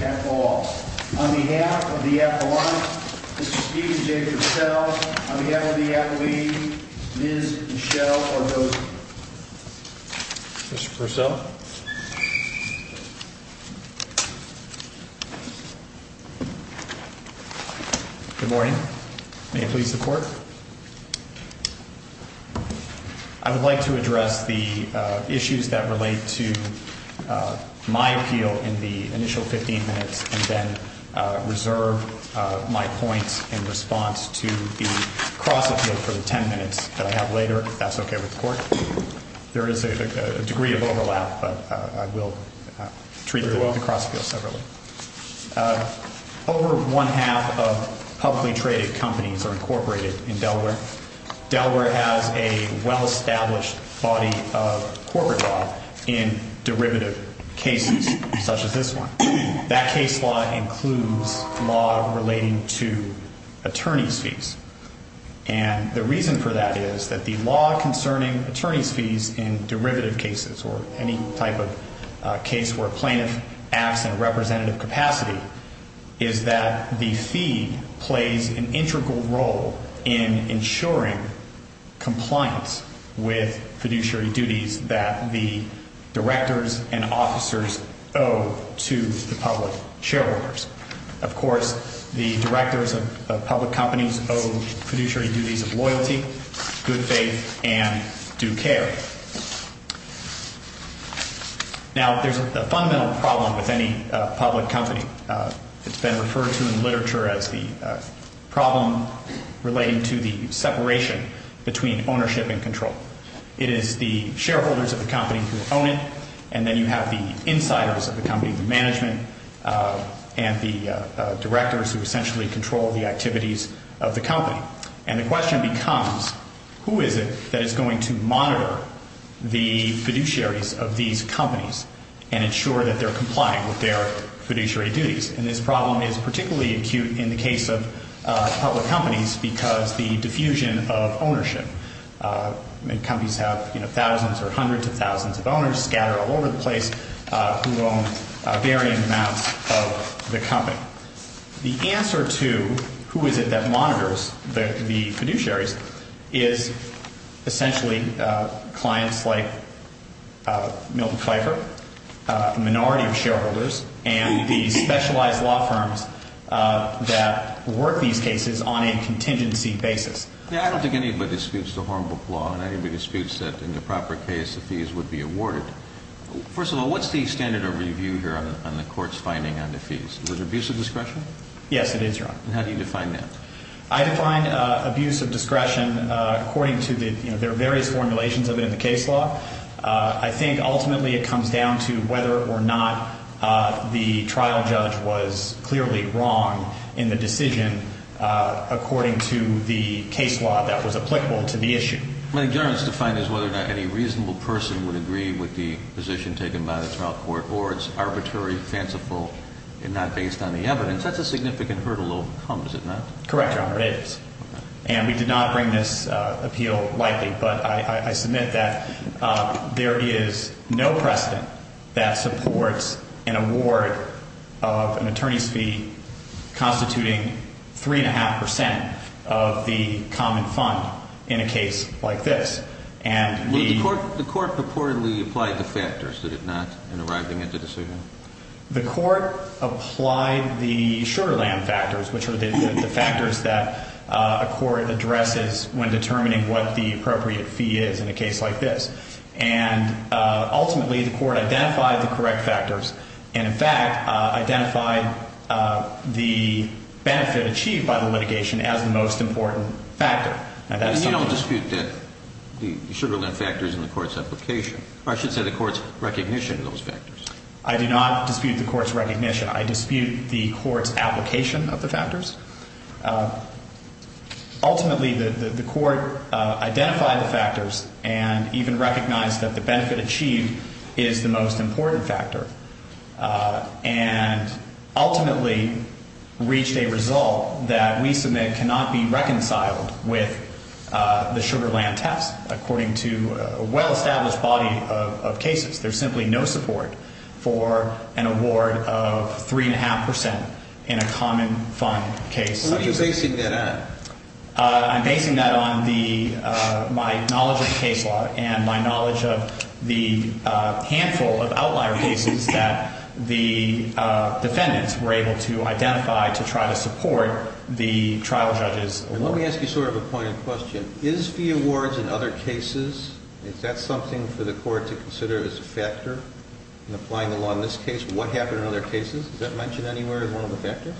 at all. On behalf of the appellant, Mr. Steven J. Purcell. On behalf of the accolade, Ms. Michelle Ordoza. Mr. Purcell. Good morning. May it please the court. I would like to address the issues that relate to my appeal in the initial 15 minutes and then reserve my points in response to the cross appeal for the 10 minutes that I have later, if that's okay with the court. There is a degree of overlap, but I will treat the cross appeal separately. Over one half of publicly traded companies are incorporated in Delaware. Delaware has a well-established body of corporate law in derivative cases such as this one. That case law includes law relating to attorney's fees. And the reason for that is that the law concerning attorney's fees in derivative cases or any type of case where a plaintiff acts in representative capacity is that the fee plays an integral role in ensuring compliance with fiduciary duties that the directors and officers owe to the plaintiffs. Of course, the directors of public companies owe fiduciary duties of loyalty, good faith, and due care. Now, there's a fundamental problem with any public company. It's been referred to in literature as the problem relating to the separation between ownership and control. It is the shareholders of the company who own it, and then you have the insiders of the company, the management, and the directors who essentially control the activities of the company. And the question becomes, who is it that is going to monitor the fiduciaries of these companies and ensure that they're complying with their fiduciary duties? And this problem is particularly acute in the case of public companies because the diffusion of ownership. Companies have thousands or hundreds of thousands of owners scattered all over the place who own varying amounts of the company. The answer to who is it that monitors the fiduciaries is essentially clients like Milton Pfeiffer, a minority of shareholders, and the specialized law firms that work these cases on a contingency basis. I don't think anybody disputes the Hornbook Law, and anybody disputes that in the proper case, the fees would be awarded. First of all, what's the standard of review here on the Court's finding on the fees? Is it abuse of discretion? Yes, it is, Your Honor. And how do you define that? I define abuse of discretion according to the – there are various formulations of it in the case law. I think ultimately it comes down to whether or not the trial judge was clearly wrong in the decision according to the case law that was applicable to the issue. My ignorance to find is whether or not any reasonable person would agree with the position taken by the trial court or it's arbitrary, fanciful, and not based on the evidence. That's a significant hurdle to overcome, is it not? And we did not bring this appeal lightly, but I submit that there is no precedent that supports an award of an attorney's fee constituting 3.5 percent of the common fund in a case like this. The Court purportedly applied the factors, did it not, in arriving at the decision? The Court applied the Sugar Land factors, which are the factors that a court addresses when determining what the appropriate fee is in a case like this. And ultimately, the Court identified the correct factors and, in fact, identified the benefit achieved by the litigation as the most important factor. And you don't dispute that the Sugar Land factors in the Court's application – or I should say the Court's recognition of those factors? I do not dispute the Court's recognition. I dispute the Court's application of the factors. Ultimately, the Court identified the factors and even recognized that the benefit achieved is the most important factor and ultimately reached a result that we submit cannot be reconciled with the Sugar Land test, according to a well-established body of cases. There's simply no support for an award of 3.5 percent in a common fund case such as this. What are you basing that on? I'm basing that on the – my knowledge of the case law and my knowledge of the handful of outlier cases that the defendants were able to identify to try to support the trial judge's award. And let me ask you sort of a pointed question. Is fee awards in other cases – is that something for the Court to consider as a factor in applying the law in this case? What happened in other cases? Is that mentioned anywhere as one of the factors?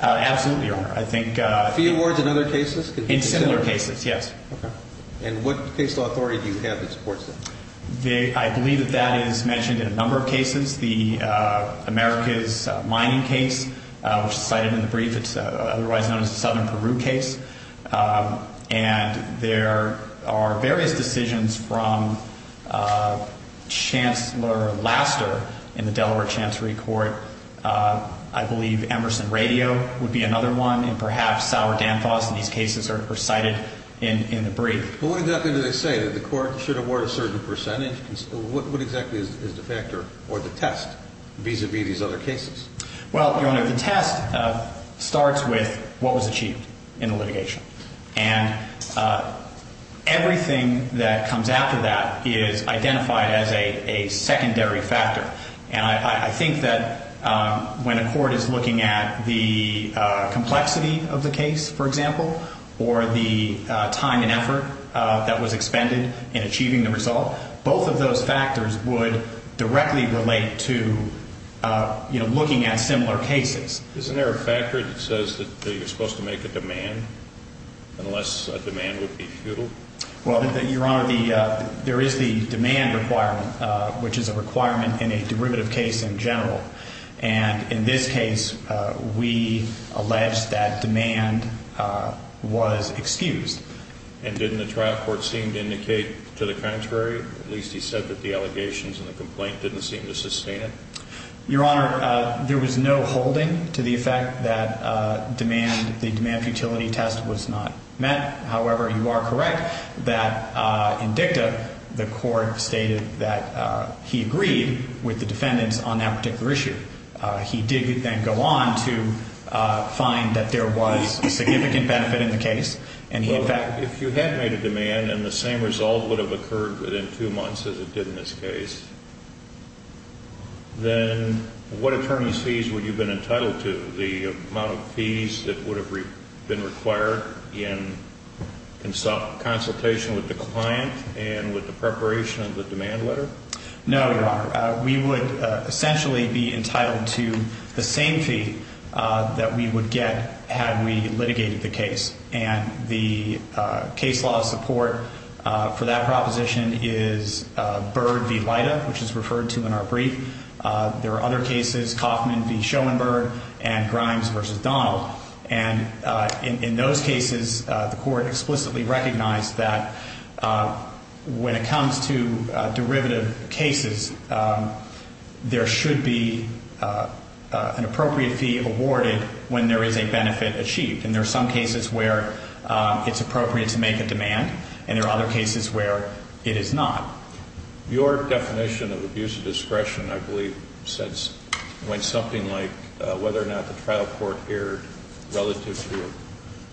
Absolutely, Your Honor. I think – Fee awards in other cases? In similar cases, yes. Okay. And what case law authority do you have that supports that? I believe that that is mentioned in a number of cases. The Americas Mining case was cited in the brief. It's otherwise known as the Southern Peru case. And there are various decisions from Chancellor Laster in the Delaware Chancery Court. I believe Emerson Radio would be another one and perhaps Sauer Danfoss in these cases are cited in the brief. But what exactly do they say? That the Court should award a certain percentage? What exactly is the factor or the test vis-à-vis these other cases? Well, Your Honor, the test starts with what was achieved in the litigation. And everything that comes after that is identified as a secondary factor. And I think that when a court is looking at the complexity of the case, for example, or the time and effort that was expended in achieving the result, both of those factors would directly relate to, you know, looking at similar cases. Isn't there a factor that says that you're supposed to make a demand unless a demand would be futile? Well, Your Honor, there is the demand requirement, which is a requirement in a derivative case in general. And in this case, we allege that demand was excused. And didn't the trial court seem to indicate to the contrary? At least he said that the allegations in the complaint didn't seem to sustain it. Your Honor, there was no holding to the effect that the demand futility test was not met. However, you are correct that in dicta, the court stated that he agreed with the defendants on that particular issue. He did then go on to find that there was a significant benefit in the case. Well, if you had made a demand and the same result would have occurred within two months as it did in this case, then what attorney's fees would you have been entitled to? The amount of fees that would have been required in consultation with the client and with the preparation of the demand letter? No, Your Honor. We would essentially be entitled to the same fee that we would get had we litigated the case. And the case law support for that proposition is Byrd v. Lida, which is referred to in our brief. There are other cases, Kaufman v. Schoenberg and Grimes v. Donald. And in those cases, the court explicitly recognized that when it comes to derivative cases, there should be an appropriate fee awarded when there is a benefit achieved. And there are some cases where it's appropriate to make a demand, and there are other cases where it is not. Your definition of abuse of discretion, I believe, went something like whether or not the trial court erred relative to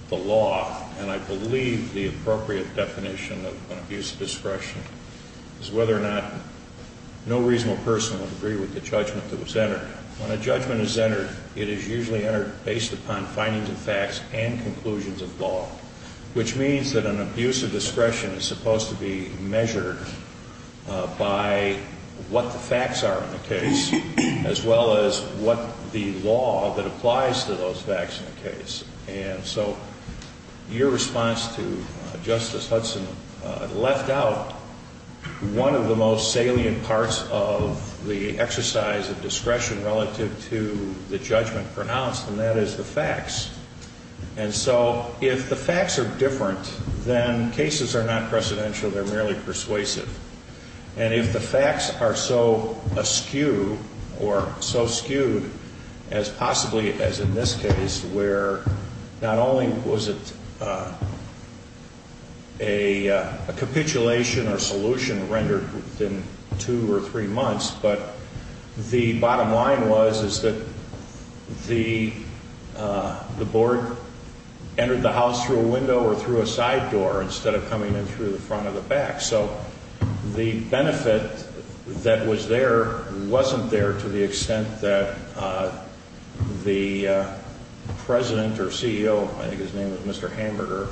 the law. And I believe the appropriate definition of an abuse of discretion is whether or not no reasonable person would agree with the judgment that was entered. When a judgment is entered, it is usually entered based upon findings of facts and conclusions of law, which means that an abuse of discretion is supposed to be measured by what the facts are in the case, as well as what the law that applies to those facts in the case. And so your response to Justice Hudson left out one of the most salient parts of the exercise of discretion relative to the judgment pronounced, and that is the facts. And so if the facts are different, then cases are not precedential. They're merely persuasive. And if the facts are so askew or so skewed as possibly as in this case, where not only was it a capitulation or solution rendered within two or three months, but the bottom line was is that the board entered the house through a window or through a side door instead of coming in through the front or the back. So the benefit that was there wasn't there to the extent that the president or CEO, I think his name was Mr. Hamburger,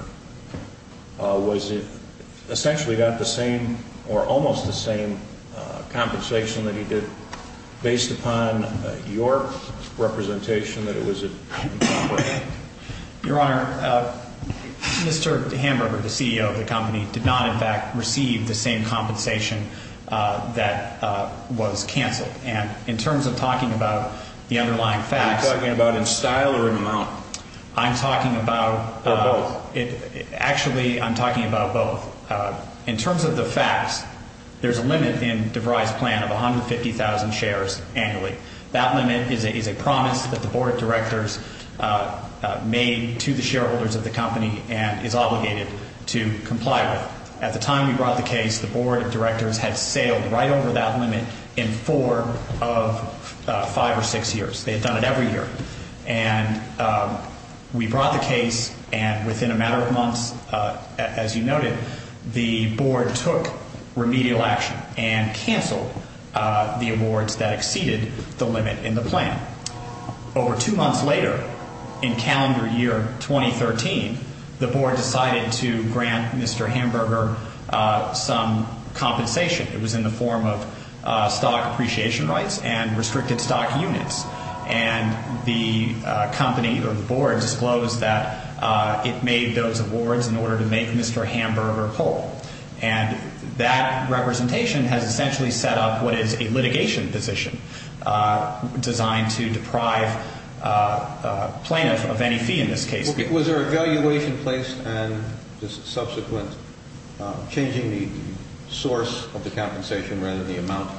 was it essentially got the same or almost the same compensation that he did based upon your representation that it was appropriate. Your Honor, Mr. Hamburger, the CEO of the company, did not in fact receive the same compensation that was canceled. And in terms of talking about the underlying facts. Are you talking about in style or in amount? I'm talking about. Or both? Actually, I'm talking about both. In terms of the facts, there's a limit in DeVry's plan of 150,000 shares annually. That limit is a promise that the board of directors made to the shareholders of the company and is obligated to comply with. At the time we brought the case, the board of directors had sailed right over that limit in four of five or six years. They had done it every year. And we brought the case. And within a matter of months, as you noted, the board took remedial action and canceled the awards that exceeded the limit in the plan. Over two months later, in calendar year 2013, the board decided to grant Mr. Hamburger some compensation. It was in the form of stock appreciation rights and restricted stock units. And the company or the board disclosed that it made those awards in order to make Mr. Hamburger whole. And that representation has essentially set up what is a litigation position designed to deprive a plaintiff of any fee in this case. Was there a valuation placed and just subsequent changing the source of the compensation rather than the amount?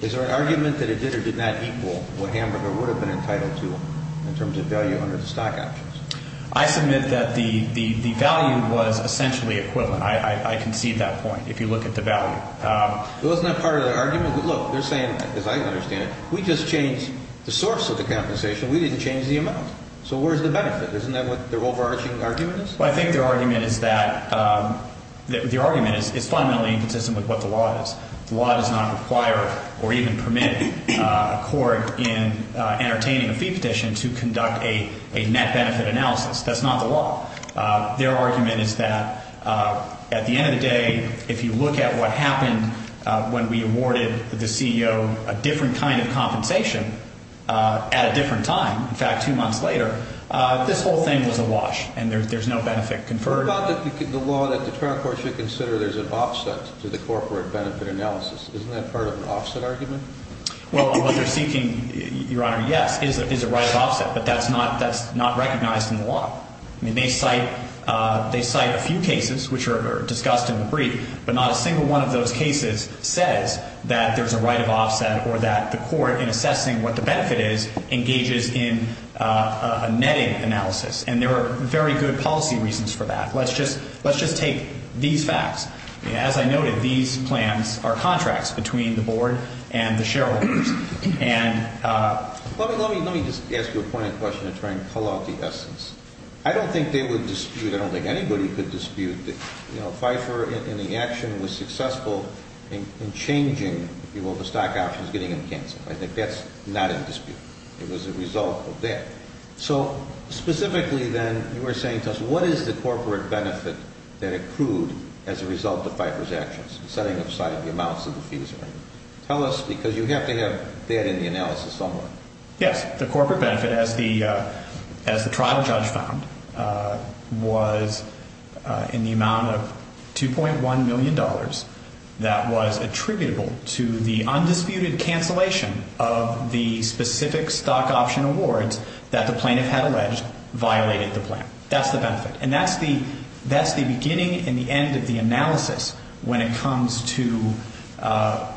Is there an argument that it did or did not equal what Hamburger would have been entitled to in terms of value under the stock options? I submit that the value was essentially equivalent. I concede that point if you look at the value. Wasn't that part of the argument? Look, they're saying, as I understand it, we just changed the source of the compensation. We didn't change the amount. So where's the benefit? Isn't that what their overarching argument is? Well, I think their argument is that the argument is fundamentally inconsistent with what the law is. The law does not require or even permit a court in entertaining a fee petition to conduct a net benefit analysis. That's not the law. Their argument is that at the end of the day, if you look at what happened when we awarded the CEO a different kind of compensation at a different time, in fact, two months later, this whole thing was awash and there's no benefit conferred. What about the law that the trial court should consider there's an offset to the corporate benefit analysis? Isn't that part of an offset argument? Well, what they're seeking, Your Honor, yes, is a right of offset, but that's not recognized in the law. I mean, they cite a few cases which are discussed in the brief, but not a single one of those cases says that there's a right of offset or that the court, in assessing what the benefit is, engages in a netting analysis. And there are very good policy reasons for that. Let's just take these facts. As I noted, these plans are contracts between the board and the shareholders. Let me just ask you a pointed question to try and pull out the essence. I don't think they would dispute, I don't think anybody could dispute that Pfeiffer in the action was successful in changing, if you will, the stock options, getting them canceled. I think that's not in dispute. It was a result of that. Okay. So, specifically then, you were saying to us, what is the corporate benefit that accrued as a result of Pfeiffer's actions, setting aside the amounts of the fees? Tell us, because you have to have that in the analysis somewhere. Yes. The corporate benefit, as the trial judge found, was in the amount of $2.1 million that was attributable to the undisputed cancellation of the specific stock option awards that the plaintiff had alleged violated the plan. That's the benefit. And that's the beginning and the end of the analysis when it comes to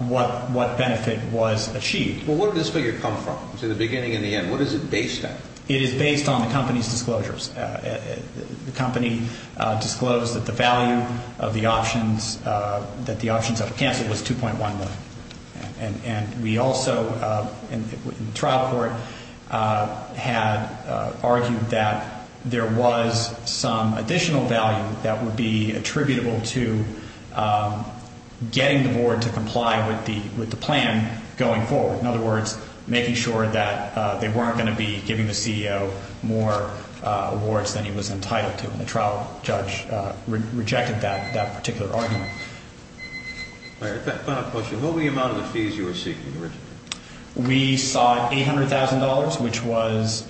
what benefit was achieved. Well, where did this figure come from? It was in the beginning and the end. What is it based on? It is based on the company's disclosures. The company disclosed that the value of the options, that the options that were canceled was $2.1 million. And we also, in the trial court, had argued that there was some additional value that would be attributable to getting the board to comply with the plan going forward. In other words, making sure that they weren't going to be giving the CEO more awards than he was entitled to. And the trial judge rejected that particular argument. All right. Final question. What were the amount of the fees you were seeking originally? We sought $800,000, which was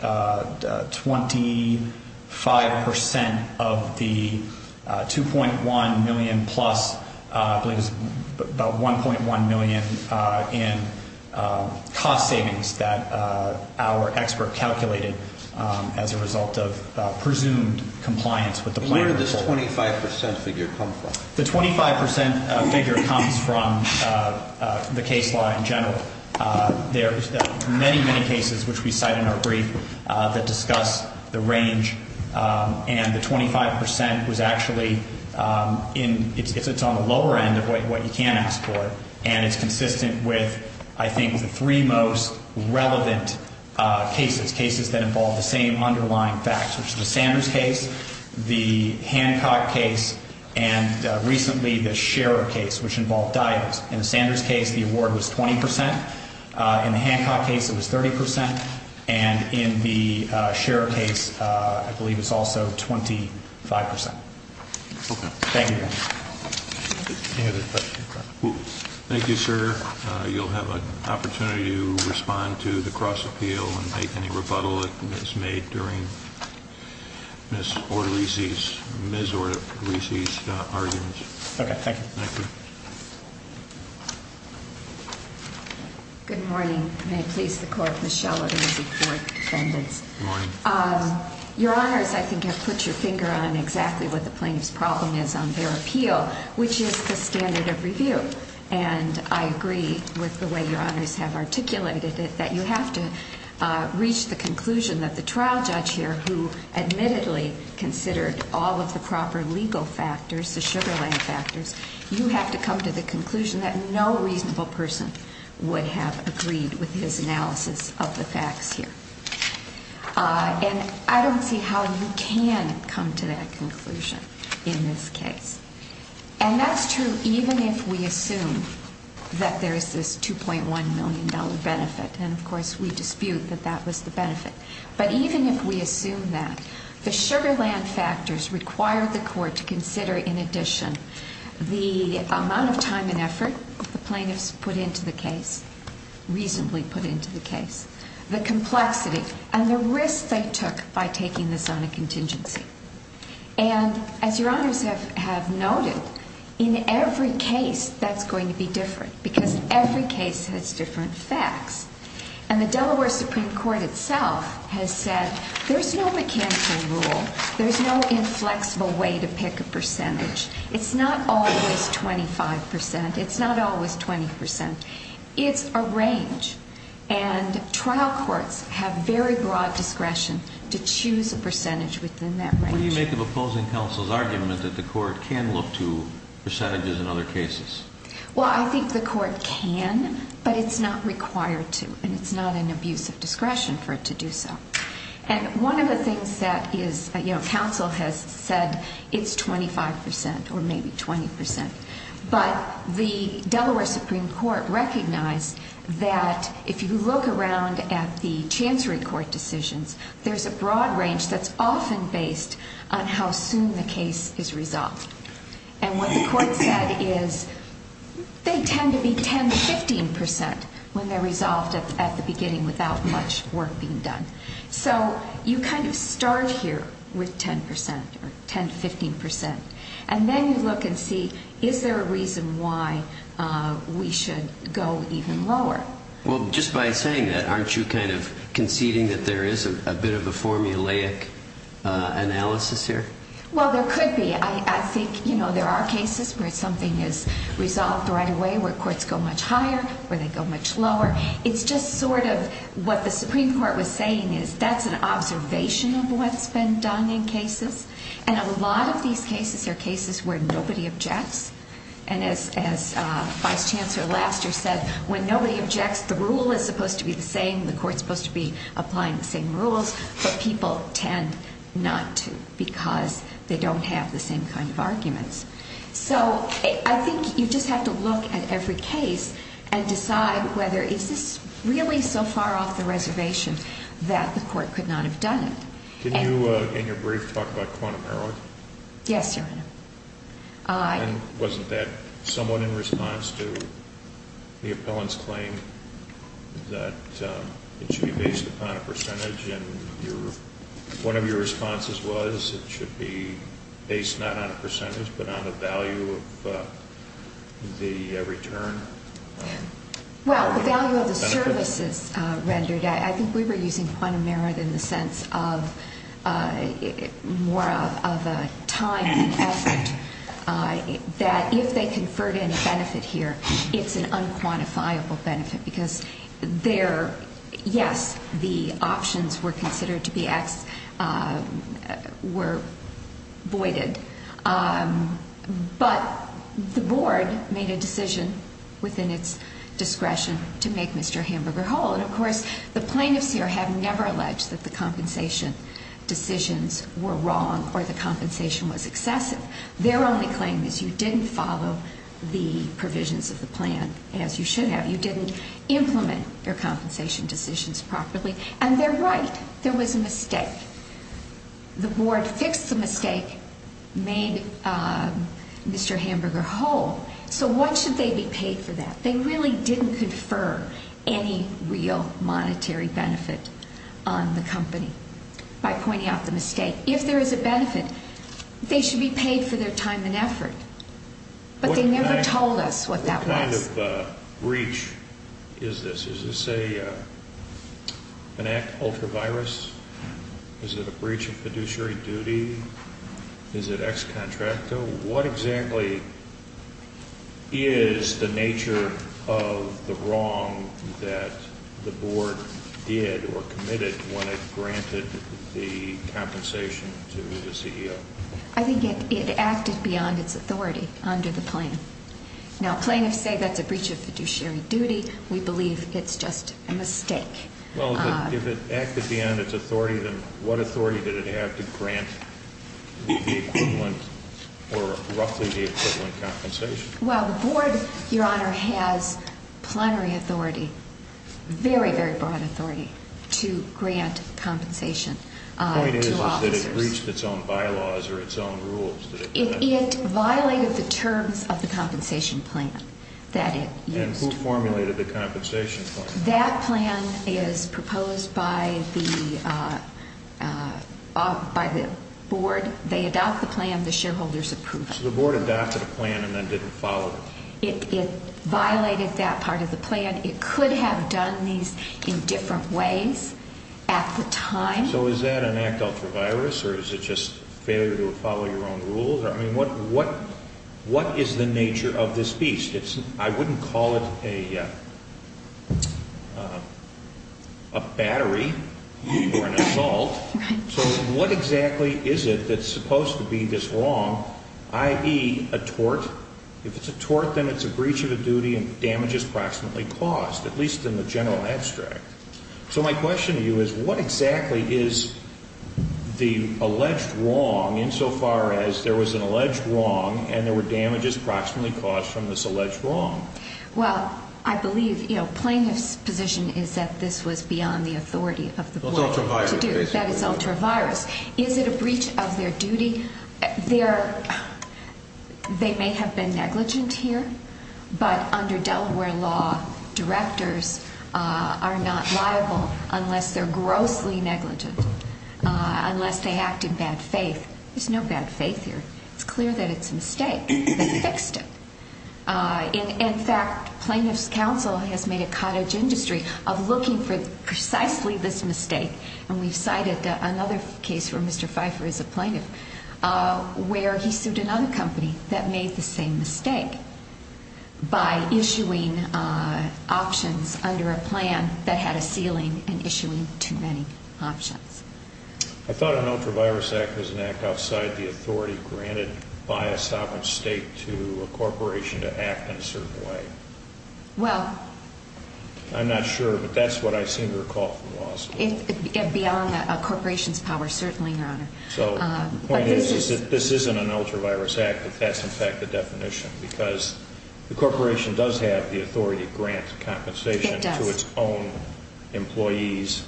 25 percent of the $2.1 million plus, I believe it was about $1.1 million in cost savings that our expert calculated as a result of presumed compliance with the plan. Where did this 25 percent figure come from? The 25 percent figure comes from the case law in general. There are many, many cases, which we cite in our brief, that discuss the range. And the 25 percent was actually on the lower end of what you can ask for. And it's consistent with, I think, the three most relevant cases, cases that involve the same underlying facts, which is the Sanders case, the Hancock case, and recently the Scherer case, which involved divers. In the Sanders case, the award was 20 percent. In the Hancock case, it was 30 percent. And in the Scherer case, I believe it's also 25 percent. Thank you. Any other questions? Thank you, sir. You'll have an opportunity to respond to the cross-appeal and make any rebuttal that was made during Ms. Ordovici's argument. Okay, thank you. Thank you. Good morning. May it please the Court, Ms. Shuller, and the Board of Defendants. Good morning. Your Honors, I think I've put your finger on exactly what the plaintiff's problem is on their appeal, which is the standard of review. And I agree with the way Your Honors have articulated it, that you have to reach the conclusion that the trial judge here, who admittedly considered all of the proper legal factors, the Sugar Land factors, you have to come to the conclusion that no reasonable person would have agreed with his analysis of the facts here. And I don't see how you can come to that conclusion in this case. And that's true even if we assume that there is this $2.1 million benefit. And, of course, we dispute that that was the benefit. But even if we assume that, the Sugar Land factors require the Court to consider, in addition, the amount of time and effort the plaintiffs put into the case, reasonably put into the case, the complexity, and the risk they took by taking this on a contingency. And, as Your Honors have noted, in every case that's going to be different because every case has different facts. And the Delaware Supreme Court itself has said there's no mechanical rule. There's no inflexible way to pick a percentage. It's not always 25 percent. It's not always 20 percent. It's a range. And trial courts have very broad discretion to choose a percentage within that range. What do you make of opposing counsel's argument that the Court can look to percentages in other cases? Well, I think the Court can, but it's not required to. And it's not an abuse of discretion for it to do so. And one of the things that is, you know, counsel has said it's 25 percent or maybe 20 percent. But the Delaware Supreme Court recognized that if you look around at the Chancery Court decisions, there's a broad range that's often based on how soon the case is resolved. And what the Court said is they tend to be 10 to 15 percent when they're resolved at the beginning without much work being done. So you kind of start here with 10 percent or 10 to 15 percent, and then you look and see, is there a reason why we should go even lower? Well, just by saying that, aren't you kind of conceding that there is a bit of a formulaic analysis here? Well, there could be. I think, you know, there are cases where something is resolved right away, where courts go much higher, where they go much lower. It's just sort of what the Supreme Court was saying is that's an observation of what's been done in cases. And a lot of these cases are cases where nobody objects. And as Vice Chancellor Laster said, when nobody objects, the rule is supposed to be the same, the Court's supposed to be applying the same rules. But people tend not to because they don't have the same kind of arguments. So I think you just have to look at every case and decide whether is this really so far off the reservation that the Court could not have done it. Can you, in your brief, talk about quantum heroin? Yes, Your Honor. And wasn't that somewhat in response to the appellant's claim that it should be based upon a percentage? And one of your responses was it should be based not on a percentage but on a value of the return? Well, the value of the services rendered. I think we were using quantum merit in the sense of more of a time and effort that if they conferred any benefit here, it's an unquantifiable benefit. Because there, yes, the options were considered to be voided. But the Board made a decision within its discretion to make Mr. Hamburger whole. And, of course, the plaintiffs here have never alleged that the compensation decisions were wrong or the compensation was excessive. Their only claim is you didn't follow the provisions of the plan as you should have. You didn't implement your compensation decisions properly. And they're right. There was a mistake. The Board fixed the mistake, made Mr. Hamburger whole. So what should they be paid for that? They really didn't confer any real monetary benefit on the company by pointing out the mistake. If there is a benefit, they should be paid for their time and effort. But they never told us what that was. What kind of breach is this? Is this an act of ultra-virus? Is it a breach of fiduciary duty? Is it ex contracto? What exactly is the nature of the wrong that the Board did or committed when it granted the compensation to the CEO? I think it acted beyond its authority under the plan. Now, plaintiffs say that's a breach of fiduciary duty. Well, if it acted beyond its authority, then what authority did it have to grant the equivalent or roughly the equivalent compensation? Well, the Board, Your Honor, has plenary authority, very, very broad authority to grant compensation to officers. The point is that it breached its own bylaws or its own rules. It violated the terms of the compensation plan that it used. And who formulated the compensation plan? That plan is proposed by the Board. They adopt the plan. The shareholders approve it. So the Board adopted a plan and then didn't follow it? It violated that part of the plan. It could have done these in different ways at the time. So is that an act of ultra-virus, or is it just failure to follow your own rules? I mean, what is the nature of this beast? I wouldn't call it a battery or an assault. So what exactly is it that's supposed to be this wrong, i.e., a tort? If it's a tort, then it's a breach of a duty and damage is proximately caused, at least in the general abstract. So my question to you is, what exactly is the alleged wrong insofar as there was an alleged wrong and there were damages proximately caused from this alleged wrong? Well, I believe plaintiff's position is that this was beyond the authority of the Board to do. It's ultra-virus, basically. That is ultra-virus. Is it a breach of their duty? They may have been negligent here, but under Delaware law, directors are not liable unless they're grossly negligent, unless they act in bad faith. There's no bad faith here. It's clear that it's a mistake. They fixed it. In fact, plaintiff's counsel has made a cottage industry of looking for precisely this mistake, and we've cited another case where Mr. Pfeiffer is a plaintiff where he sued another company that made the same mistake by issuing options under a plan that had a ceiling and issuing too many options. I thought an ultra-virus act was an act outside the authority granted by a sovereign state to a corporation to act in a certain way. Well... I'm not sure, but that's what I seem to recall from law school. It's beyond a corporation's power, certainly, Your Honor. So the point is that this isn't an ultra-virus act. That's, in fact, the definition because the corporation does have the authority to grant compensation to its own employees.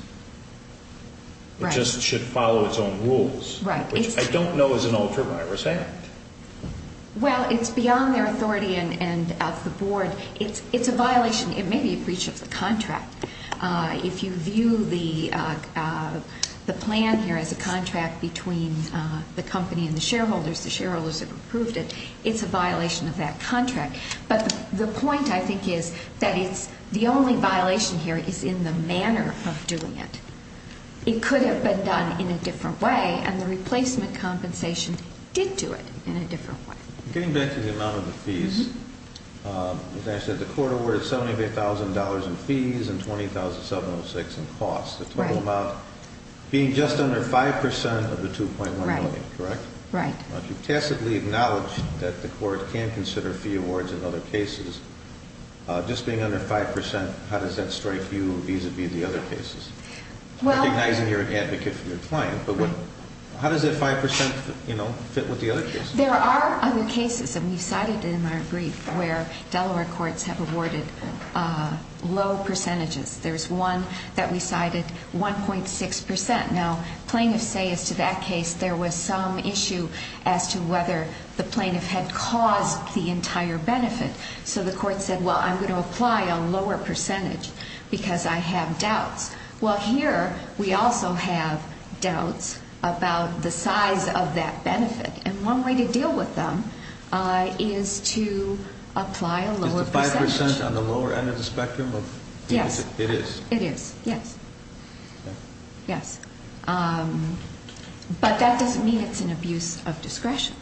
It just should follow its own rules, which I don't know is an ultra-virus act. Well, it's beyond their authority and of the Board. It's a violation. It may be a breach of the contract. If you view the plan here as a contract between the company and the shareholders, the shareholders have approved it, it's a violation of that contract. But the point, I think, is that the only violation here is in the manner of doing it. It could have been done in a different way, and the replacement compensation did do it in a different way. Getting back to the amount of the fees, as I said, the court awarded $78,000 in fees and $20,706 in costs, the total amount being just under 5% of the $2.1 million, correct? Right. You've tacitly acknowledged that the court can consider fee awards in other cases. Just being under 5%, how does that strike you vis-à-vis the other cases? Recognizing you're an advocate for your client, but how does that 5% fit with the other cases? There are other cases, and we've cited them in our brief, where Delaware courts have awarded low percentages. There's one that we cited, 1.6%. Now, plaintiffs say as to that case there was some issue as to whether the plaintiff had caused the entire benefit. So the court said, well, I'm going to apply a lower percentage because I have doubts. Well, here we also have doubts about the size of that benefit. And one way to deal with them is to apply a lower percentage. Is the 5% on the lower end of the spectrum of fees? Yes. It is? It is, yes. Okay. Yes. But that doesn't mean it's an abuse of discretion.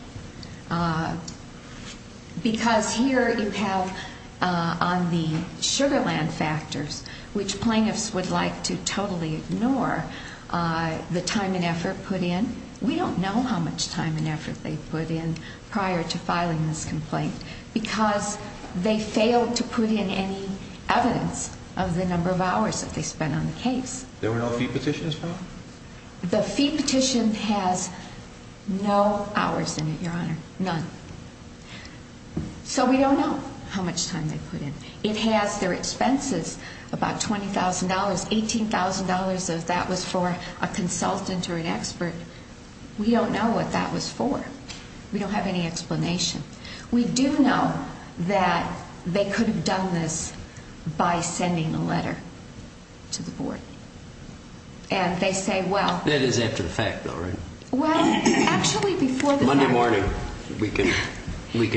Because here you have on the Sugar Land factors, which plaintiffs would like to totally ignore, the time and effort put in. We don't know how much time and effort they put in prior to filing this complaint. Because they failed to put in any evidence of the number of hours that they spent on the case. There were no fee petitions filed? The fee petition has no hours in it, Your Honor. None. So we don't know how much time they put in. It has their expenses, about $20,000, $18,000 if that was for a consultant or an expert. We don't know what that was for. We don't have any explanation. We do know that they could have done this by sending a letter to the board. And they say, well. That is after the fact, though, right? Well, actually before the fact. Monday morning we can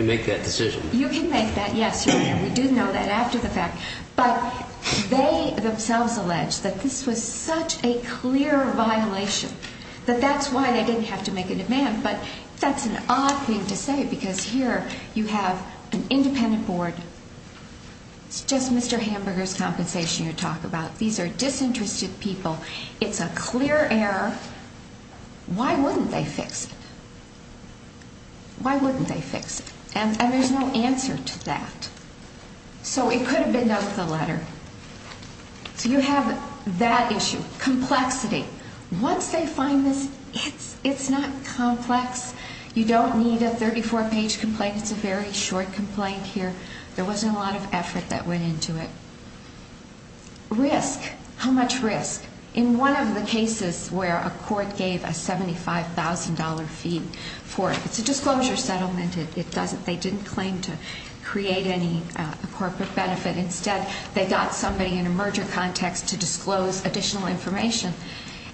make that decision. You can make that, yes, Your Honor. We do know that after the fact. But they themselves allege that this was such a clear violation that that's why they didn't have to make a demand. But that's an odd thing to say because here you have an independent board. It's just Mr. Hamburger's compensation you're talking about. These are disinterested people. It's a clear error. Why wouldn't they fix it? Why wouldn't they fix it? And there's no answer to that. So it could have been done with a letter. So you have that issue. Complexity. Once they find this, it's not complex. You don't need a 34-page complaint. It's a very short complaint here. There wasn't a lot of effort that went into it. Risk. How much risk? In one of the cases where a court gave a $75,000 fee for it, it's a disclosure settlement. They didn't claim to create any corporate benefit. Instead, they got somebody in a merger context to disclose additional information.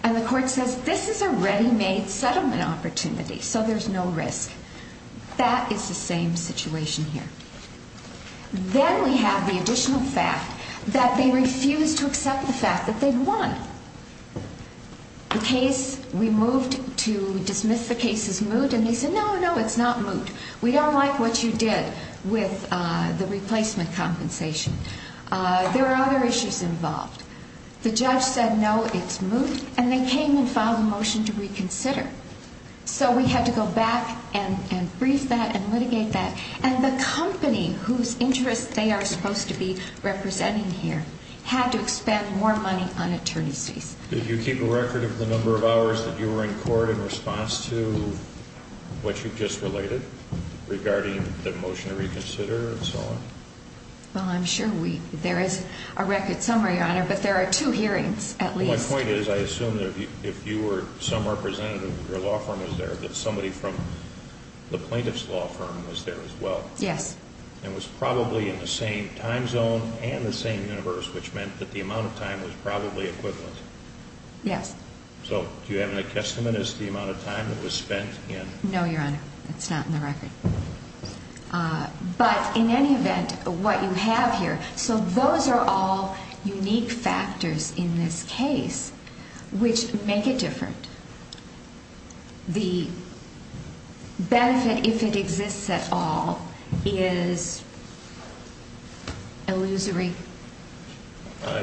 And the court says this is a ready-made settlement opportunity, so there's no risk. That is the same situation here. Then we have the additional fact that they refused to accept the fact that they'd won. The case, we moved to dismiss the case as moot, and they said, no, no, it's not moot. We don't like what you did with the replacement compensation. There are other issues involved. The judge said, no, it's moot, and they came and filed a motion to reconsider. So we had to go back and brief that and litigate that. And the company whose interests they are supposed to be representing here had to expend more money on attorneys fees. Did you keep a record of the number of hours that you were in court in response to what you just related regarding the motion to reconsider and so on? Well, I'm sure there is a record somewhere, Your Honor, but there are two hearings at least. My point is I assume that if you were some representative, your law firm was there, that somebody from the plaintiff's law firm was there as well. Yes. And was probably in the same time zone and the same universe, which meant that the amount of time was probably equivalent. Yes. So do you have any testament as to the amount of time that was spent in? It's not in the record. But in any event, what you have here, so those are all unique factors in this case which make it different. The benefit, if it exists at all, is illusory.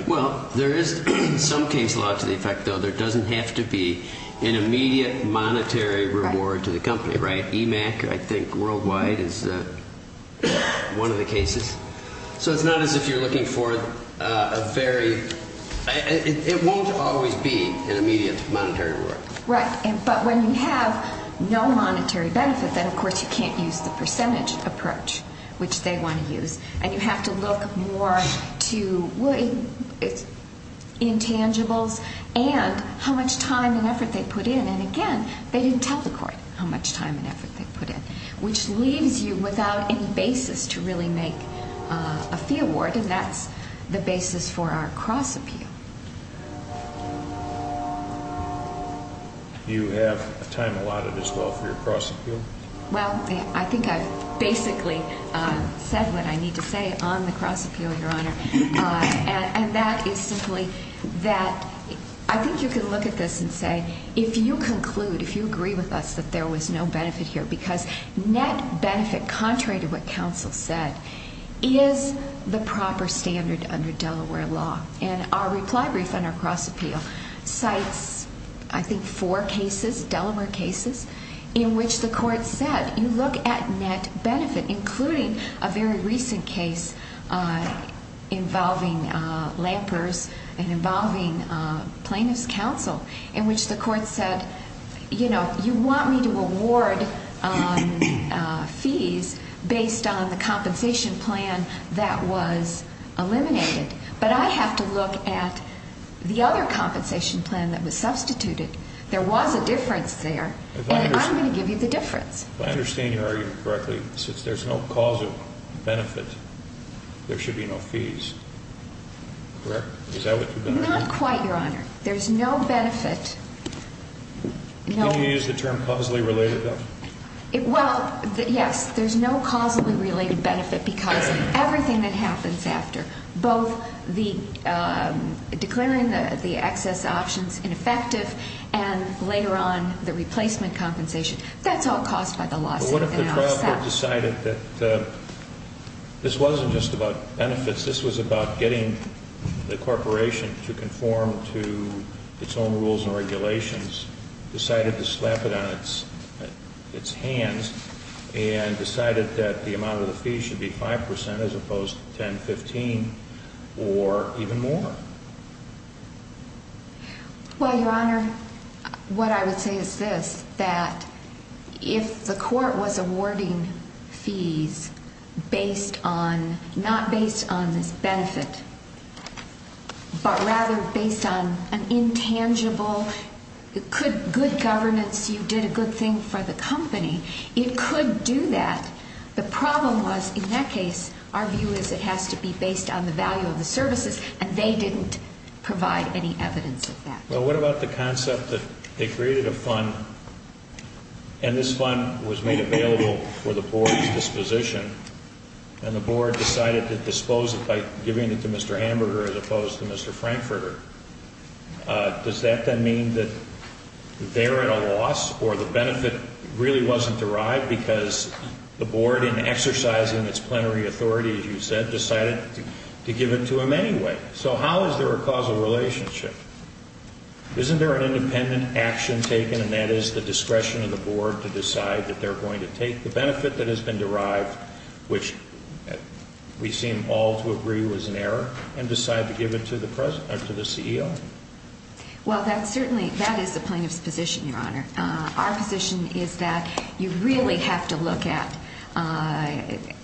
Well, there is some case law to the effect, though, there doesn't have to be an immediate monetary reward to the company, right? MAC, I think, worldwide is one of the cases. So it's not as if you're looking for a very, it won't always be an immediate monetary reward. Right. But when you have no monetary benefit, then, of course, you can't use the percentage approach, which they want to use. And you have to look more to intangibles and how much time and effort they put in. And again, they didn't tell the court how much time and effort they put in, which leaves you without any basis to really make a fee award. And that's the basis for our cross-appeal. Do you have a time allotted as well for your cross-appeal? Well, I think I've basically said what I need to say on the cross-appeal, Your Honor. And that is simply that I think you can look at this and say, if you conclude, if you agree with us that there was no benefit here, because net benefit, contrary to what counsel said, is the proper standard under Delaware law. And our reply brief on our cross-appeal cites, I think, four cases, Delaware cases, in which the court said, you look at net benefit, including a very recent case involving Lampers and involving Plaintiffs' Counsel, in which the court said, you know, you want me to award fees based on the compensation plan that was eliminated, but I have to look at the other compensation plan that was substituted. There was a difference there, and I'm going to give you the difference. I understand your argument correctly. Since there's no causal benefit, there should be no fees, correct? Is that what you're going to do? Not quite, Your Honor. There's no benefit. Can you use the term causally related, though? Well, yes. There's no causally related benefit because everything that happens after, both the declaring the excess options ineffective and later on the replacement compensation, that's all caused by the lawsuit. But what if the trial court decided that this wasn't just about benefits, this was about getting the corporation to conform to its own rules and regulations, decided to slap it on its hands and decided that the amount of the fees should be 5 percent as opposed to 10, 15, or even more? Well, Your Honor, what I would say is this, that if the court was awarding fees not based on this benefit, but rather based on an intangible good governance, you did a good thing for the company, it could do that. The problem was, in that case, our view is it has to be based on the value of the services, and they didn't provide any evidence of that. Well, what about the concept that they created a fund, and this fund was made available for the board's disposition, and the board decided to dispose of it by giving it to Mr. Hamburger as opposed to Mr. Frankfurter. Does that then mean that they're at a loss or the benefit really wasn't derived because the board, in exercising its plenary authority, as you said, decided to give it to him anyway? So how is there a causal relationship? Isn't there an independent action taken, and that is the discretion of the board to decide that they're going to take the benefit that has been derived, which we seem all to agree was an error, and decide to give it to the CEO? Well, that is the plaintiff's position, Your Honor. Our position is that you really have to look at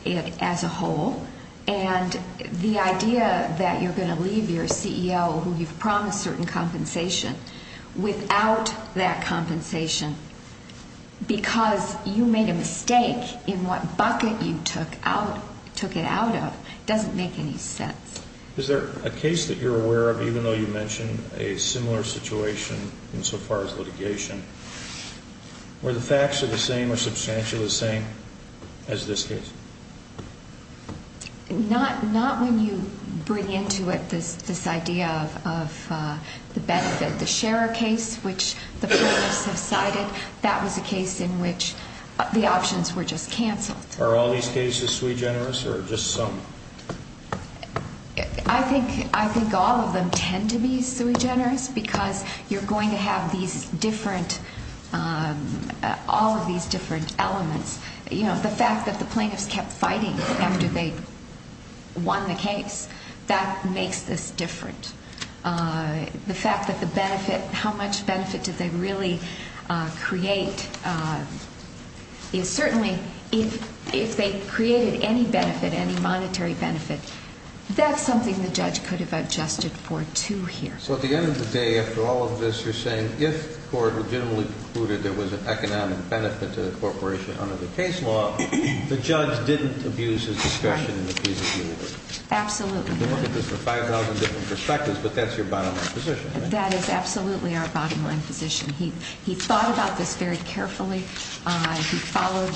it as a whole, and the idea that you're going to leave your CEO who you've promised certain compensation without that compensation because you made a mistake in what bucket you took it out of doesn't make any sense. Is there a case that you're aware of, even though you mentioned a similar situation insofar as litigation, where the facts are the same or substantially the same as this case? Not when you bring into it this idea of the benefit. The Scherer case, which the plaintiffs have cited, that was a case in which the options were just canceled. Are all these cases sui generis or just some? I think all of them tend to be sui generis because you're going to have all of these different elements. The fact that the plaintiffs kept fighting after they won the case, that makes this different. The fact that the benefit, how much benefit did they really create is certainly, if they created any benefit, any monetary benefit, that's something the judge could have adjusted for, too, here. So at the end of the day, after all of this, you're saying, if the court legitimately concluded there was an economic benefit to the corporation under the case law, the judge didn't abuse his discretion in the case of New York? Absolutely not. We can look at this from 5,000 different perspectives, but that's your bottom line position. That is absolutely our bottom line position. He thought about this very carefully. He followed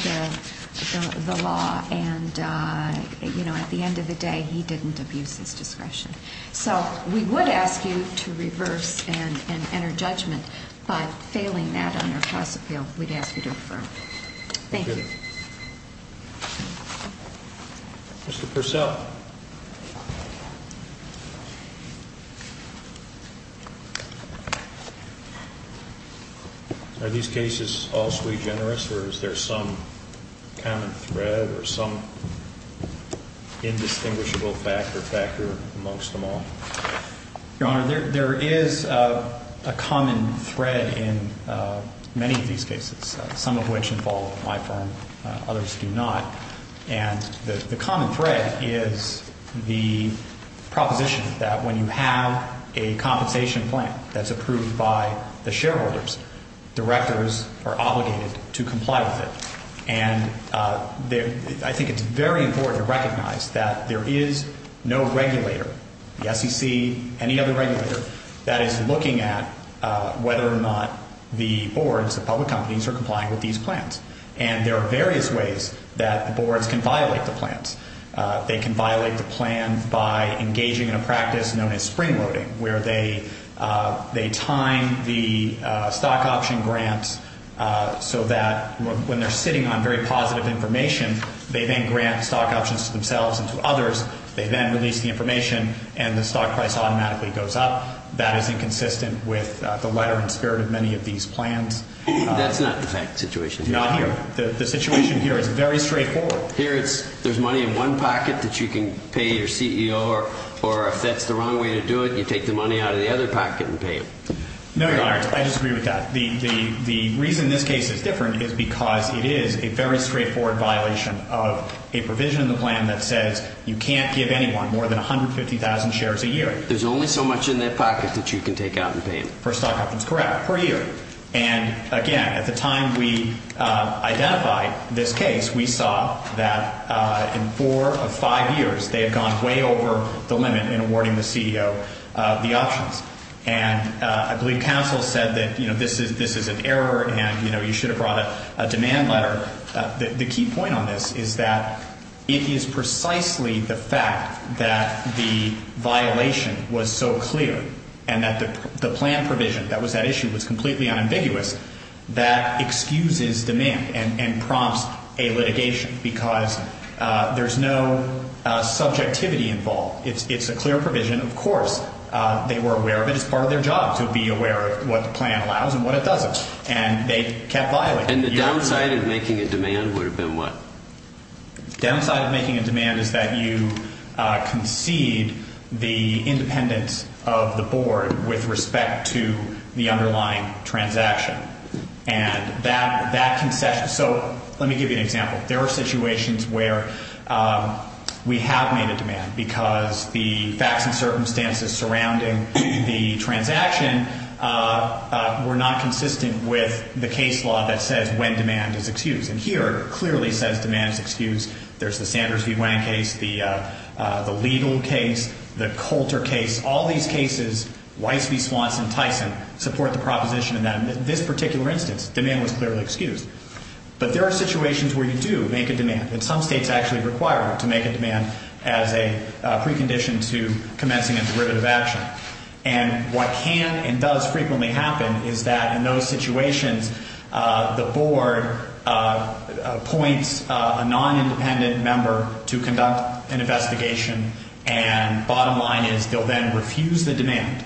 the law, and at the end of the day, he didn't abuse his discretion. So we would ask you to reverse and enter judgment, but failing that on your cause appeal, we'd ask you to affirm. Thank you. Thank you. Mr. Purcell. Are these cases all sui generis, or is there some kind of thread or some indistinguishable factor factor amongst them all? Your Honor, there is a common thread in many of these cases, some of which involve my firm, others do not. And the common thread is the proposition that when you have a compensation plan that's approved by the shareholders, directors are obligated to comply with it. And I think it's very important to recognize that there is no regulator, the SEC, any other regulator, that is looking at whether or not the boards, the public companies, are complying with these plans. And there are various ways that the boards can violate the plans. They can violate the plan by engaging in a practice known as spring loading, where they time the stock option grants so that when they're sitting on very positive information, they then grant stock options to themselves and to others. They then release the information, and the stock price automatically goes up. That is inconsistent with the letter and spirit of many of these plans. That's not the situation here. Not here. The situation here is very straightforward. Here, there's money in one pocket that you can pay your CEO, or if that's the wrong way to do it, you take the money out of the other pocket and pay him. No, Your Honor. I disagree with that. The reason this case is different is because it is a very straightforward violation of a provision in the plan that says you can't give anyone more than 150,000 shares a year. There's only so much in that pocket that you can take out and pay him. For stock options, correct, per year. Again, at the time we identified this case, we saw that in four of five years, they had gone way over the limit in awarding the CEO the options. I believe counsel said that this is an error and you should have brought a demand letter. The key point on this is that it is precisely the fact that the violation was so clear and that the plan provision that was at issue was completely unambiguous, that excuses demand and prompts a litigation because there's no subjectivity involved. It's a clear provision. Of course, they were aware of it. It's part of their job to be aware of what the plan allows and what it doesn't, and they kept violating it. And the downside of making a demand would have been what? The downside of making a demand is that you concede the independence of the board with respect to the underlying transaction. And that concession, so let me give you an example. There are situations where we have made a demand because the facts and circumstances surrounding the transaction were not consistent with the case law that says when demand is excused. And here it clearly says demand is excused. There's the Sanders v. Wang case, the legal case, the Coulter case. All these cases, Weiss v. Swanson, Tyson, support the proposition of that. In this particular instance, demand was clearly excused. But there are situations where you do make a demand. And some states actually require to make a demand as a precondition to commencing a derivative action. And what can and does frequently happen is that in those situations, the board appoints a non-independent member to conduct an investigation, and bottom line is they'll then refuse the demand.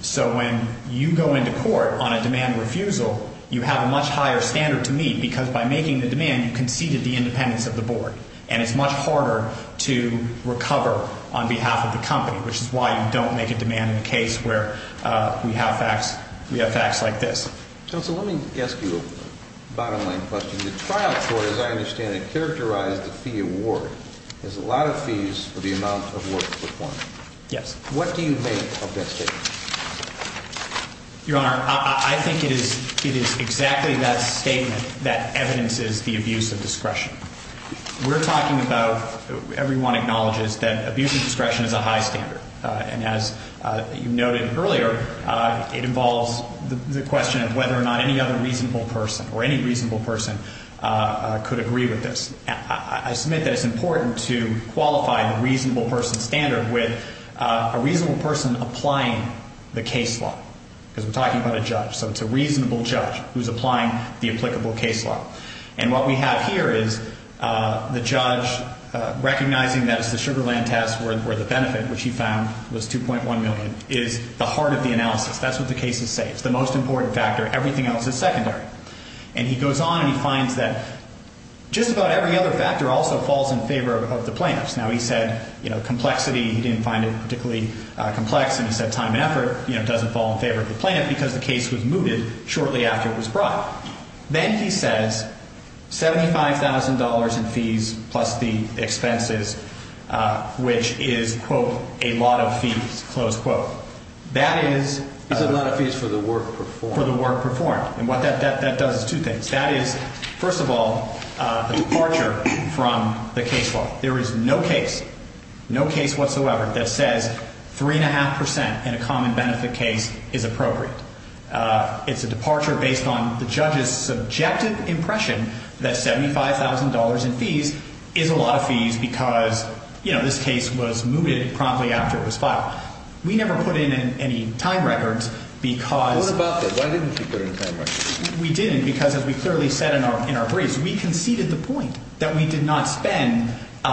So when you go into court on a demand refusal, you have a much higher standard to meet because by making the demand, you conceded the independence of the board. And it's much harder to recover on behalf of the company, which is why you don't make a demand in a case where we have facts like this. Counsel, let me ask you a bottom line question. The trial court, as I understand it, characterized the fee award as a lot of fees for the amount of work performed. Yes. What do you make of that statement? Your Honor, I think it is exactly that statement that evidences the abuse of discretion. We're talking about everyone acknowledges that abuse of discretion is a high standard. And as you noted earlier, it involves the question of whether or not any other reasonable person or any reasonable person could agree with this. I submit that it's important to qualify the reasonable person standard with a reasonable person applying the case law because we're talking about a judge. So it's a reasonable judge who's applying the applicable case law. And what we have here is the judge recognizing that it's the Sugar Land test where the benefit, which he found was $2.1 million, is the heart of the analysis. That's what the cases say. It's the most important factor. Everything else is secondary. And he goes on and he finds that just about every other factor also falls in favor of the plaintiffs. Now, he said, you know, complexity, he didn't find it particularly complex. And he said time and effort, you know, doesn't fall in favor of the plaintiff because the case was mooted shortly after it was brought. Then he says $75,000 in fees plus the expenses, which is, quote, a lot of fees, close quote. That is. He said a lot of fees for the work performed. For the work performed. And what that does is two things. That is, first of all, a departure from the case law. There is no case, no case whatsoever that says 3.5% in a common benefit case is appropriate. It's a departure based on the judge's subjective impression that $75,000 in fees is a lot of fees because, you know, this case was mooted promptly after it was filed. We never put in any time records because. What about that? Why didn't you put in time records? We didn't because as we clearly said in our briefs, we conceded the point that we did not spend a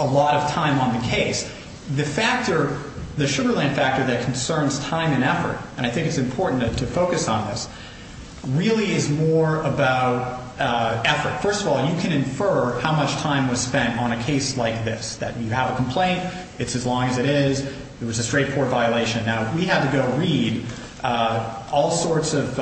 lot of time on the case. The factor, the Sugar Land factor that concerns time and effort, and I think it's important to focus on this, really is more about effort. First of all, you can infer how much time was spent on a case like this, that you have a complaint, it's as long as it is, it was a straightforward violation. Now, we had to go read all sorts of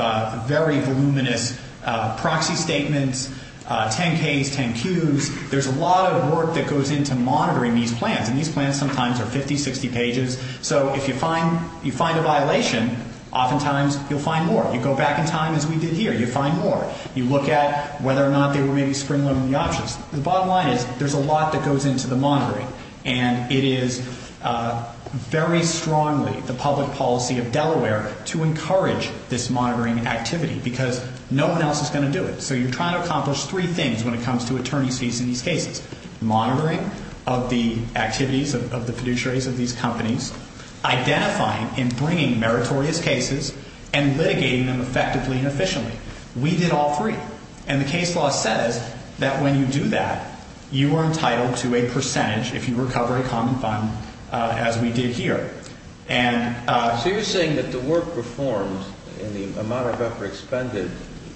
very voluminous proxy statements, 10-Ks, 10-Qs. There's a lot of work that goes into monitoring these plans, and these plans sometimes are 50, 60 pages. So if you find a violation, oftentimes you'll find more. You go back in time as we did here, you find more. You look at whether or not they were maybe spring-loading the options. The bottom line is there's a lot that goes into the monitoring, and it is very strongly the public policy of Delaware to encourage this monitoring activity because no one else is going to do it. So you're trying to accomplish three things when it comes to attorney's fees in these cases. Monitoring of the activities of the fiduciaries of these companies, identifying and bringing meritorious cases, and litigating them effectively and efficiently. We did all three, and the case law says that when you do that, you are entitled to a percentage if you recover a common fund as we did here. So you're saying that the work performed and the amount of effort expended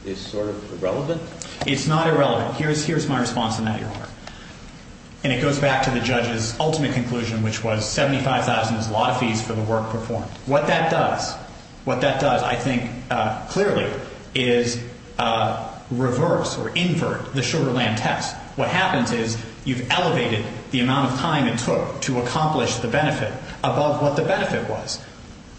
is sort of irrelevant? It's not irrelevant. Here's my response to that, Your Honor. And it goes back to the judge's ultimate conclusion, which was $75,000 is a lot of fees for the work performed. What that does, what that does, I think, clearly, is reverse or invert the Sugar Land test. What happens is you've elevated the amount of time it took to accomplish the benefit above what the benefit was.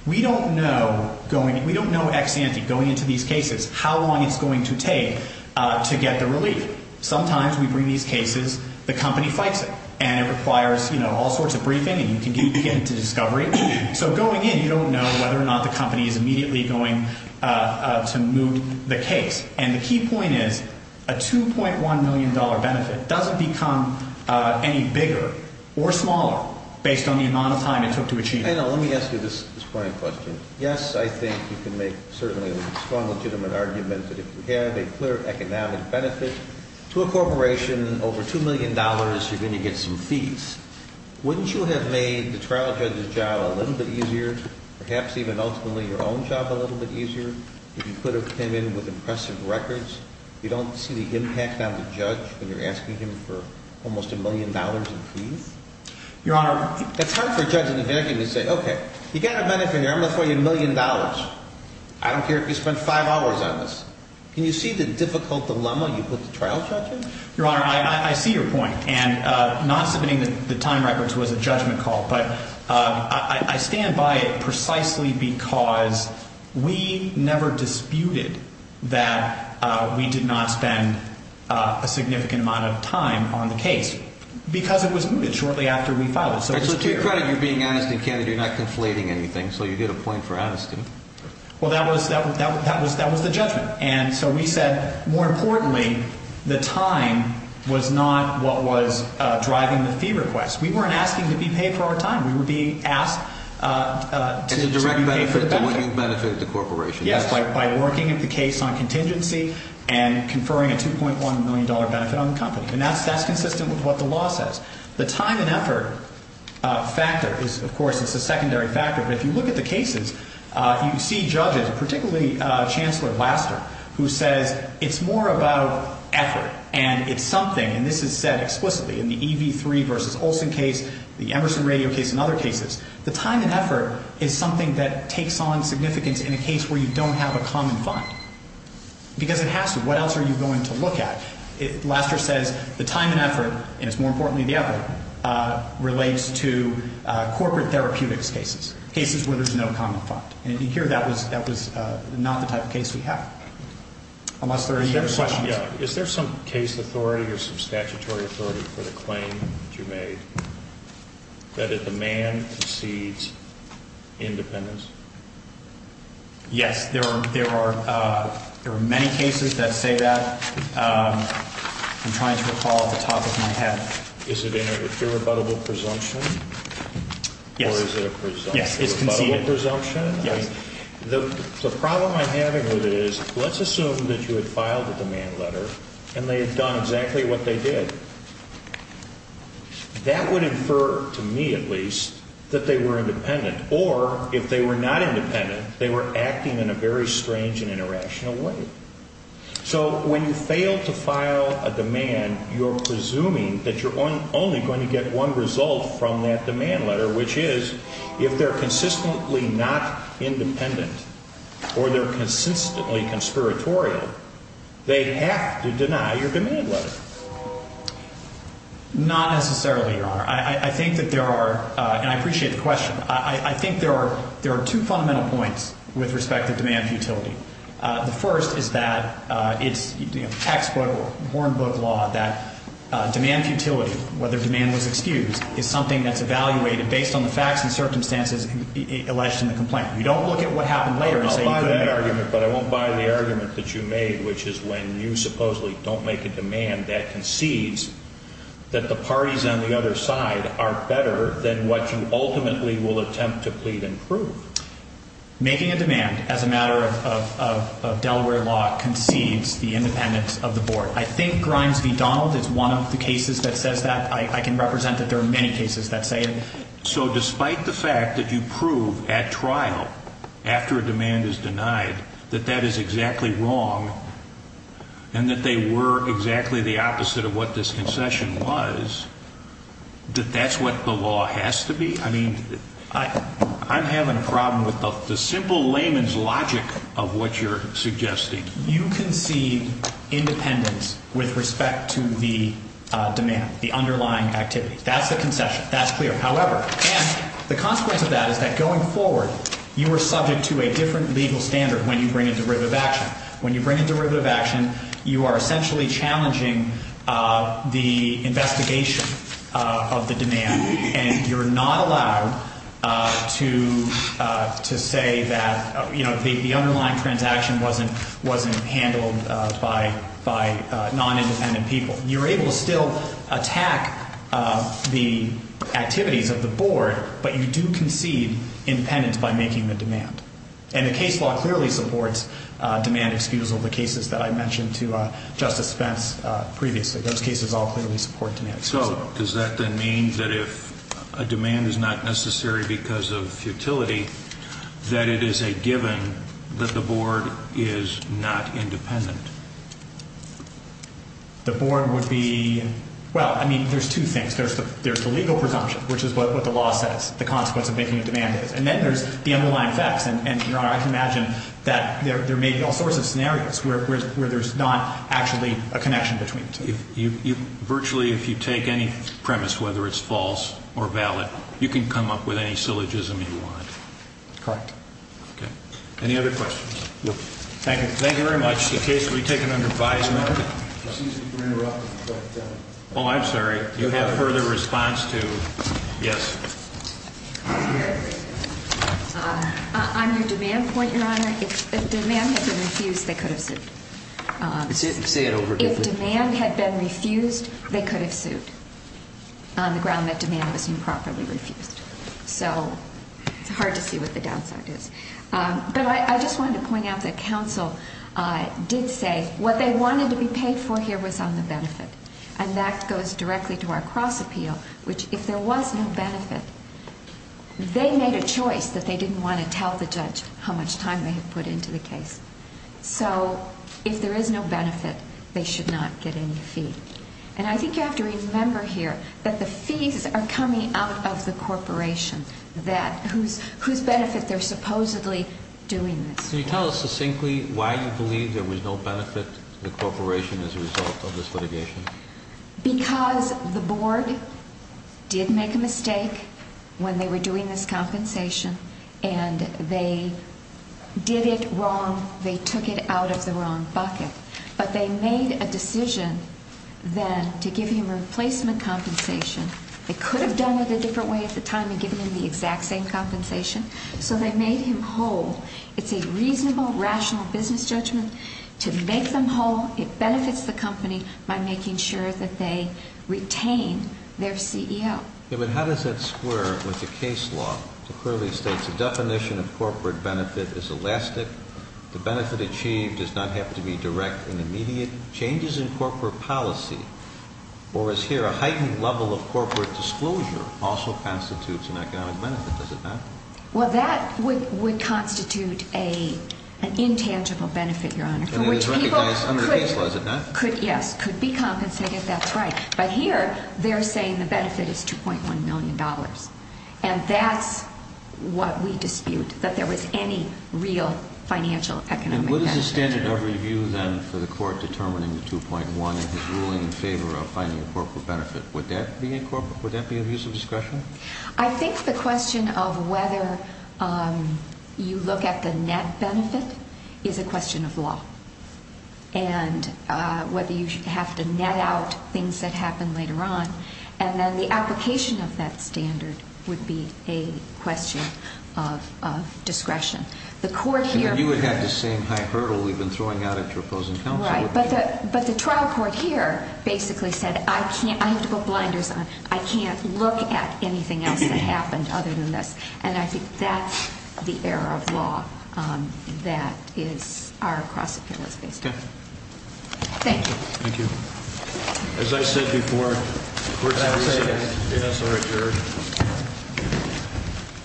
We don't know ex ante, going into these cases, how long it's going to take to get the relief. Sometimes we bring these cases, the company fights it, and it requires all sorts of briefing and you can get into discovery. So going in, you don't know whether or not the company is immediately going to moot the case. And the key point is a $2.1 million benefit doesn't become any bigger or smaller Let me ask you this point of question. Yes, I think you can make certainly a strong, legitimate argument that if you had a clear economic benefit to a corporation, over $2 million, you're going to get some fees. Wouldn't you have made the trial judge's job a little bit easier, perhaps even ultimately your own job a little bit easier, if you could have came in with impressive records? You don't see the impact on the judge when you're asking him for almost $1 million in fees? Your Honor, it's hard for a judge in New Hampshire to say, okay, you got a benefit here, I'm going to throw you a million dollars. I don't care if you spend five hours on this. Can you see the difficult dilemma you put the trial judge in? Your Honor, I see your point. And not submitting the time records was a judgment call, but I stand by it precisely because we never disputed that we did not spend a significant amount of time on the case. Because it was mooted shortly after we filed it, so it was clear. So to your credit, you're being honest and candid. You're not conflating anything, so you get a point for honesty. Well, that was the judgment. And so we said, more importantly, the time was not what was driving the fee request. We weren't asking to be paid for our time. We were being asked to distribute the benefit. As a direct benefit to what you've benefited the corporation. Yes, by working at the case on contingency and conferring a $2.1 million benefit on the company. And that's consistent with what the law says. The time and effort factor is, of course, it's a secondary factor, but if you look at the cases, you see judges, particularly Chancellor Laster, who says it's more about effort and it's something, and this is said explicitly in the EV3 v. Olson case, the Emerson Radio case, and other cases. The time and effort is something that takes on significance in a case where you don't have a common fund. Because it has to. What else are you going to look at? Laster says the time and effort, and it's more importantly the effort, relates to corporate therapeutics cases. Cases where there's no common fund. And here, that was not the type of case we have. Unless there are any other questions. Is there some case authority or some statutory authority for the claim that you made that a demand exceeds independence? Yes, there are many cases that say that. I'm trying to recall off the top of my head. Is it a rebuttable presumption? Yes. Or is it a presumption? Yes, it's conceded. A rebuttable presumption? Yes. The problem I'm having with it is, let's assume that you had filed a demand letter and they had done exactly what they did. That would infer, to me at least, that they were independent. Or, if they were not independent, they were acting in a very strange and irrational way. So, when you fail to file a demand, you're presuming that you're only going to get one result from that demand letter, which is, if they're consistently not independent, or they're consistently conspiratorial, they have to deny your demand letter. Not necessarily, Your Honor. I think that there are, and I appreciate the question, I think there are two fundamental points with respect to demand futility. The first is that it's textbook, hornbook law, that demand futility, whether demand was excused, is something that's evaluated based on the facts and circumstances alleged in the complaint. You don't look at what happened later and say, I'll buy that argument, but I won't buy the argument that you made, which is when you supposedly don't make a demand that concedes that the parties on the other side are better than what you ultimately will attempt to plead and prove. Making a demand as a matter of Delaware law concedes the independence of the board. I think Grimes v. Donald is one of the cases that says that. I can represent that there are many cases that say it. So, despite the fact that you prove at trial, after a demand is denied, that that is exactly wrong, and that they were exactly the opposite of what this concession was, that that's what the law has to be? I mean, I'm having a problem with the simple layman's logic of what you're suggesting. You concede independence with respect to the demand, the underlying activity. That's the concession. That's clear. However, and the consequence of that is that going forward, you are subject to a different legal standard when you bring a derivative action. When you bring a derivative action, you are essentially challenging the investigation of the demand, and you're not allowed to say that the underlying transaction wasn't handled by non-independent people. You're able to still attack the activities of the board, but you do concede independence by making the demand. And the case law clearly supports demand excusal, the cases that I mentioned to Justice Spence previously. Those cases all clearly support demand excusal. So does that then mean that if a demand is not necessary because of futility, that it is a given that the board is not independent? The board would be – well, I mean, there's two things. There's the legal presumption, which is what the law says the consequence of making a demand is, and then there's the underlying facts. And, Your Honor, I can imagine that there may be all sorts of scenarios where there's not actually a connection between the two. Virtually, if you take any premise, whether it's false or valid, you can come up with any syllogism you want. Correct. Okay. Any other questions? No. Thank you. Thank you very much. The case will be taken under advisement. Excuse me for interrupting, but – Oh, I'm sorry. You have further response to – yes? On your demand point, Your Honor, if demand had been refused, they could have said – Say it over again. If demand had been refused, they could have sued on the ground that demand was improperly refused. So it's hard to see what the downside is. But I just wanted to point out that counsel did say what they wanted to be paid for here was on the benefit, and that goes directly to our cross-appeal, which if there was no benefit, they made a choice that they didn't want to tell the judge how much time they had put into the case. So if there is no benefit, they should not get any fee. And I think you have to remember here that the fees are coming out of the corporation, whose benefit they're supposedly doing this for. Can you tell us succinctly why you believe there was no benefit to the corporation as a result of this litigation? Because the board did make a mistake when they were doing this compensation, and they did it wrong. They took it out of the wrong bucket. But they made a decision then to give him replacement compensation. They could have done it a different way at the time and given him the exact same compensation. So they made him whole. It's a reasonable, rational business judgment to make them whole. It benefits the company by making sure that they retain their CEO. Yeah, but how does that square with the case law? It clearly states the definition of corporate benefit is elastic. The benefit achieved does not have to be direct and immediate. Changes in corporate policy, or as here, a heightened level of corporate disclosure, also constitutes an economic benefit, does it not? Well, that would constitute an intangible benefit, Your Honor. And it is recognized under the case law, is it not? Yes, could be compensated. That's right. But here, they're saying the benefit is $2.1 million. And that's what we dispute, that there was any real financial economic benefit. And what is the standard of review then for the court determining the 2.1 in his ruling in favor of finding a corporate benefit? Would that be a use of discretion? I think the question of whether you look at the net benefit is a question of law. And whether you have to net out things that happen later on. And then the application of that standard would be a question of discretion. You would have the same high hurdle we've been throwing out at your opposing counsel. Right, but the trial court here basically said, I have to put blinders on. I can't look at anything else that happened other than this. And I think that's the error of law that is our cross-appeal is based on. Okay. Thank you. Thank you. As I said before, courts have a say in us or at your.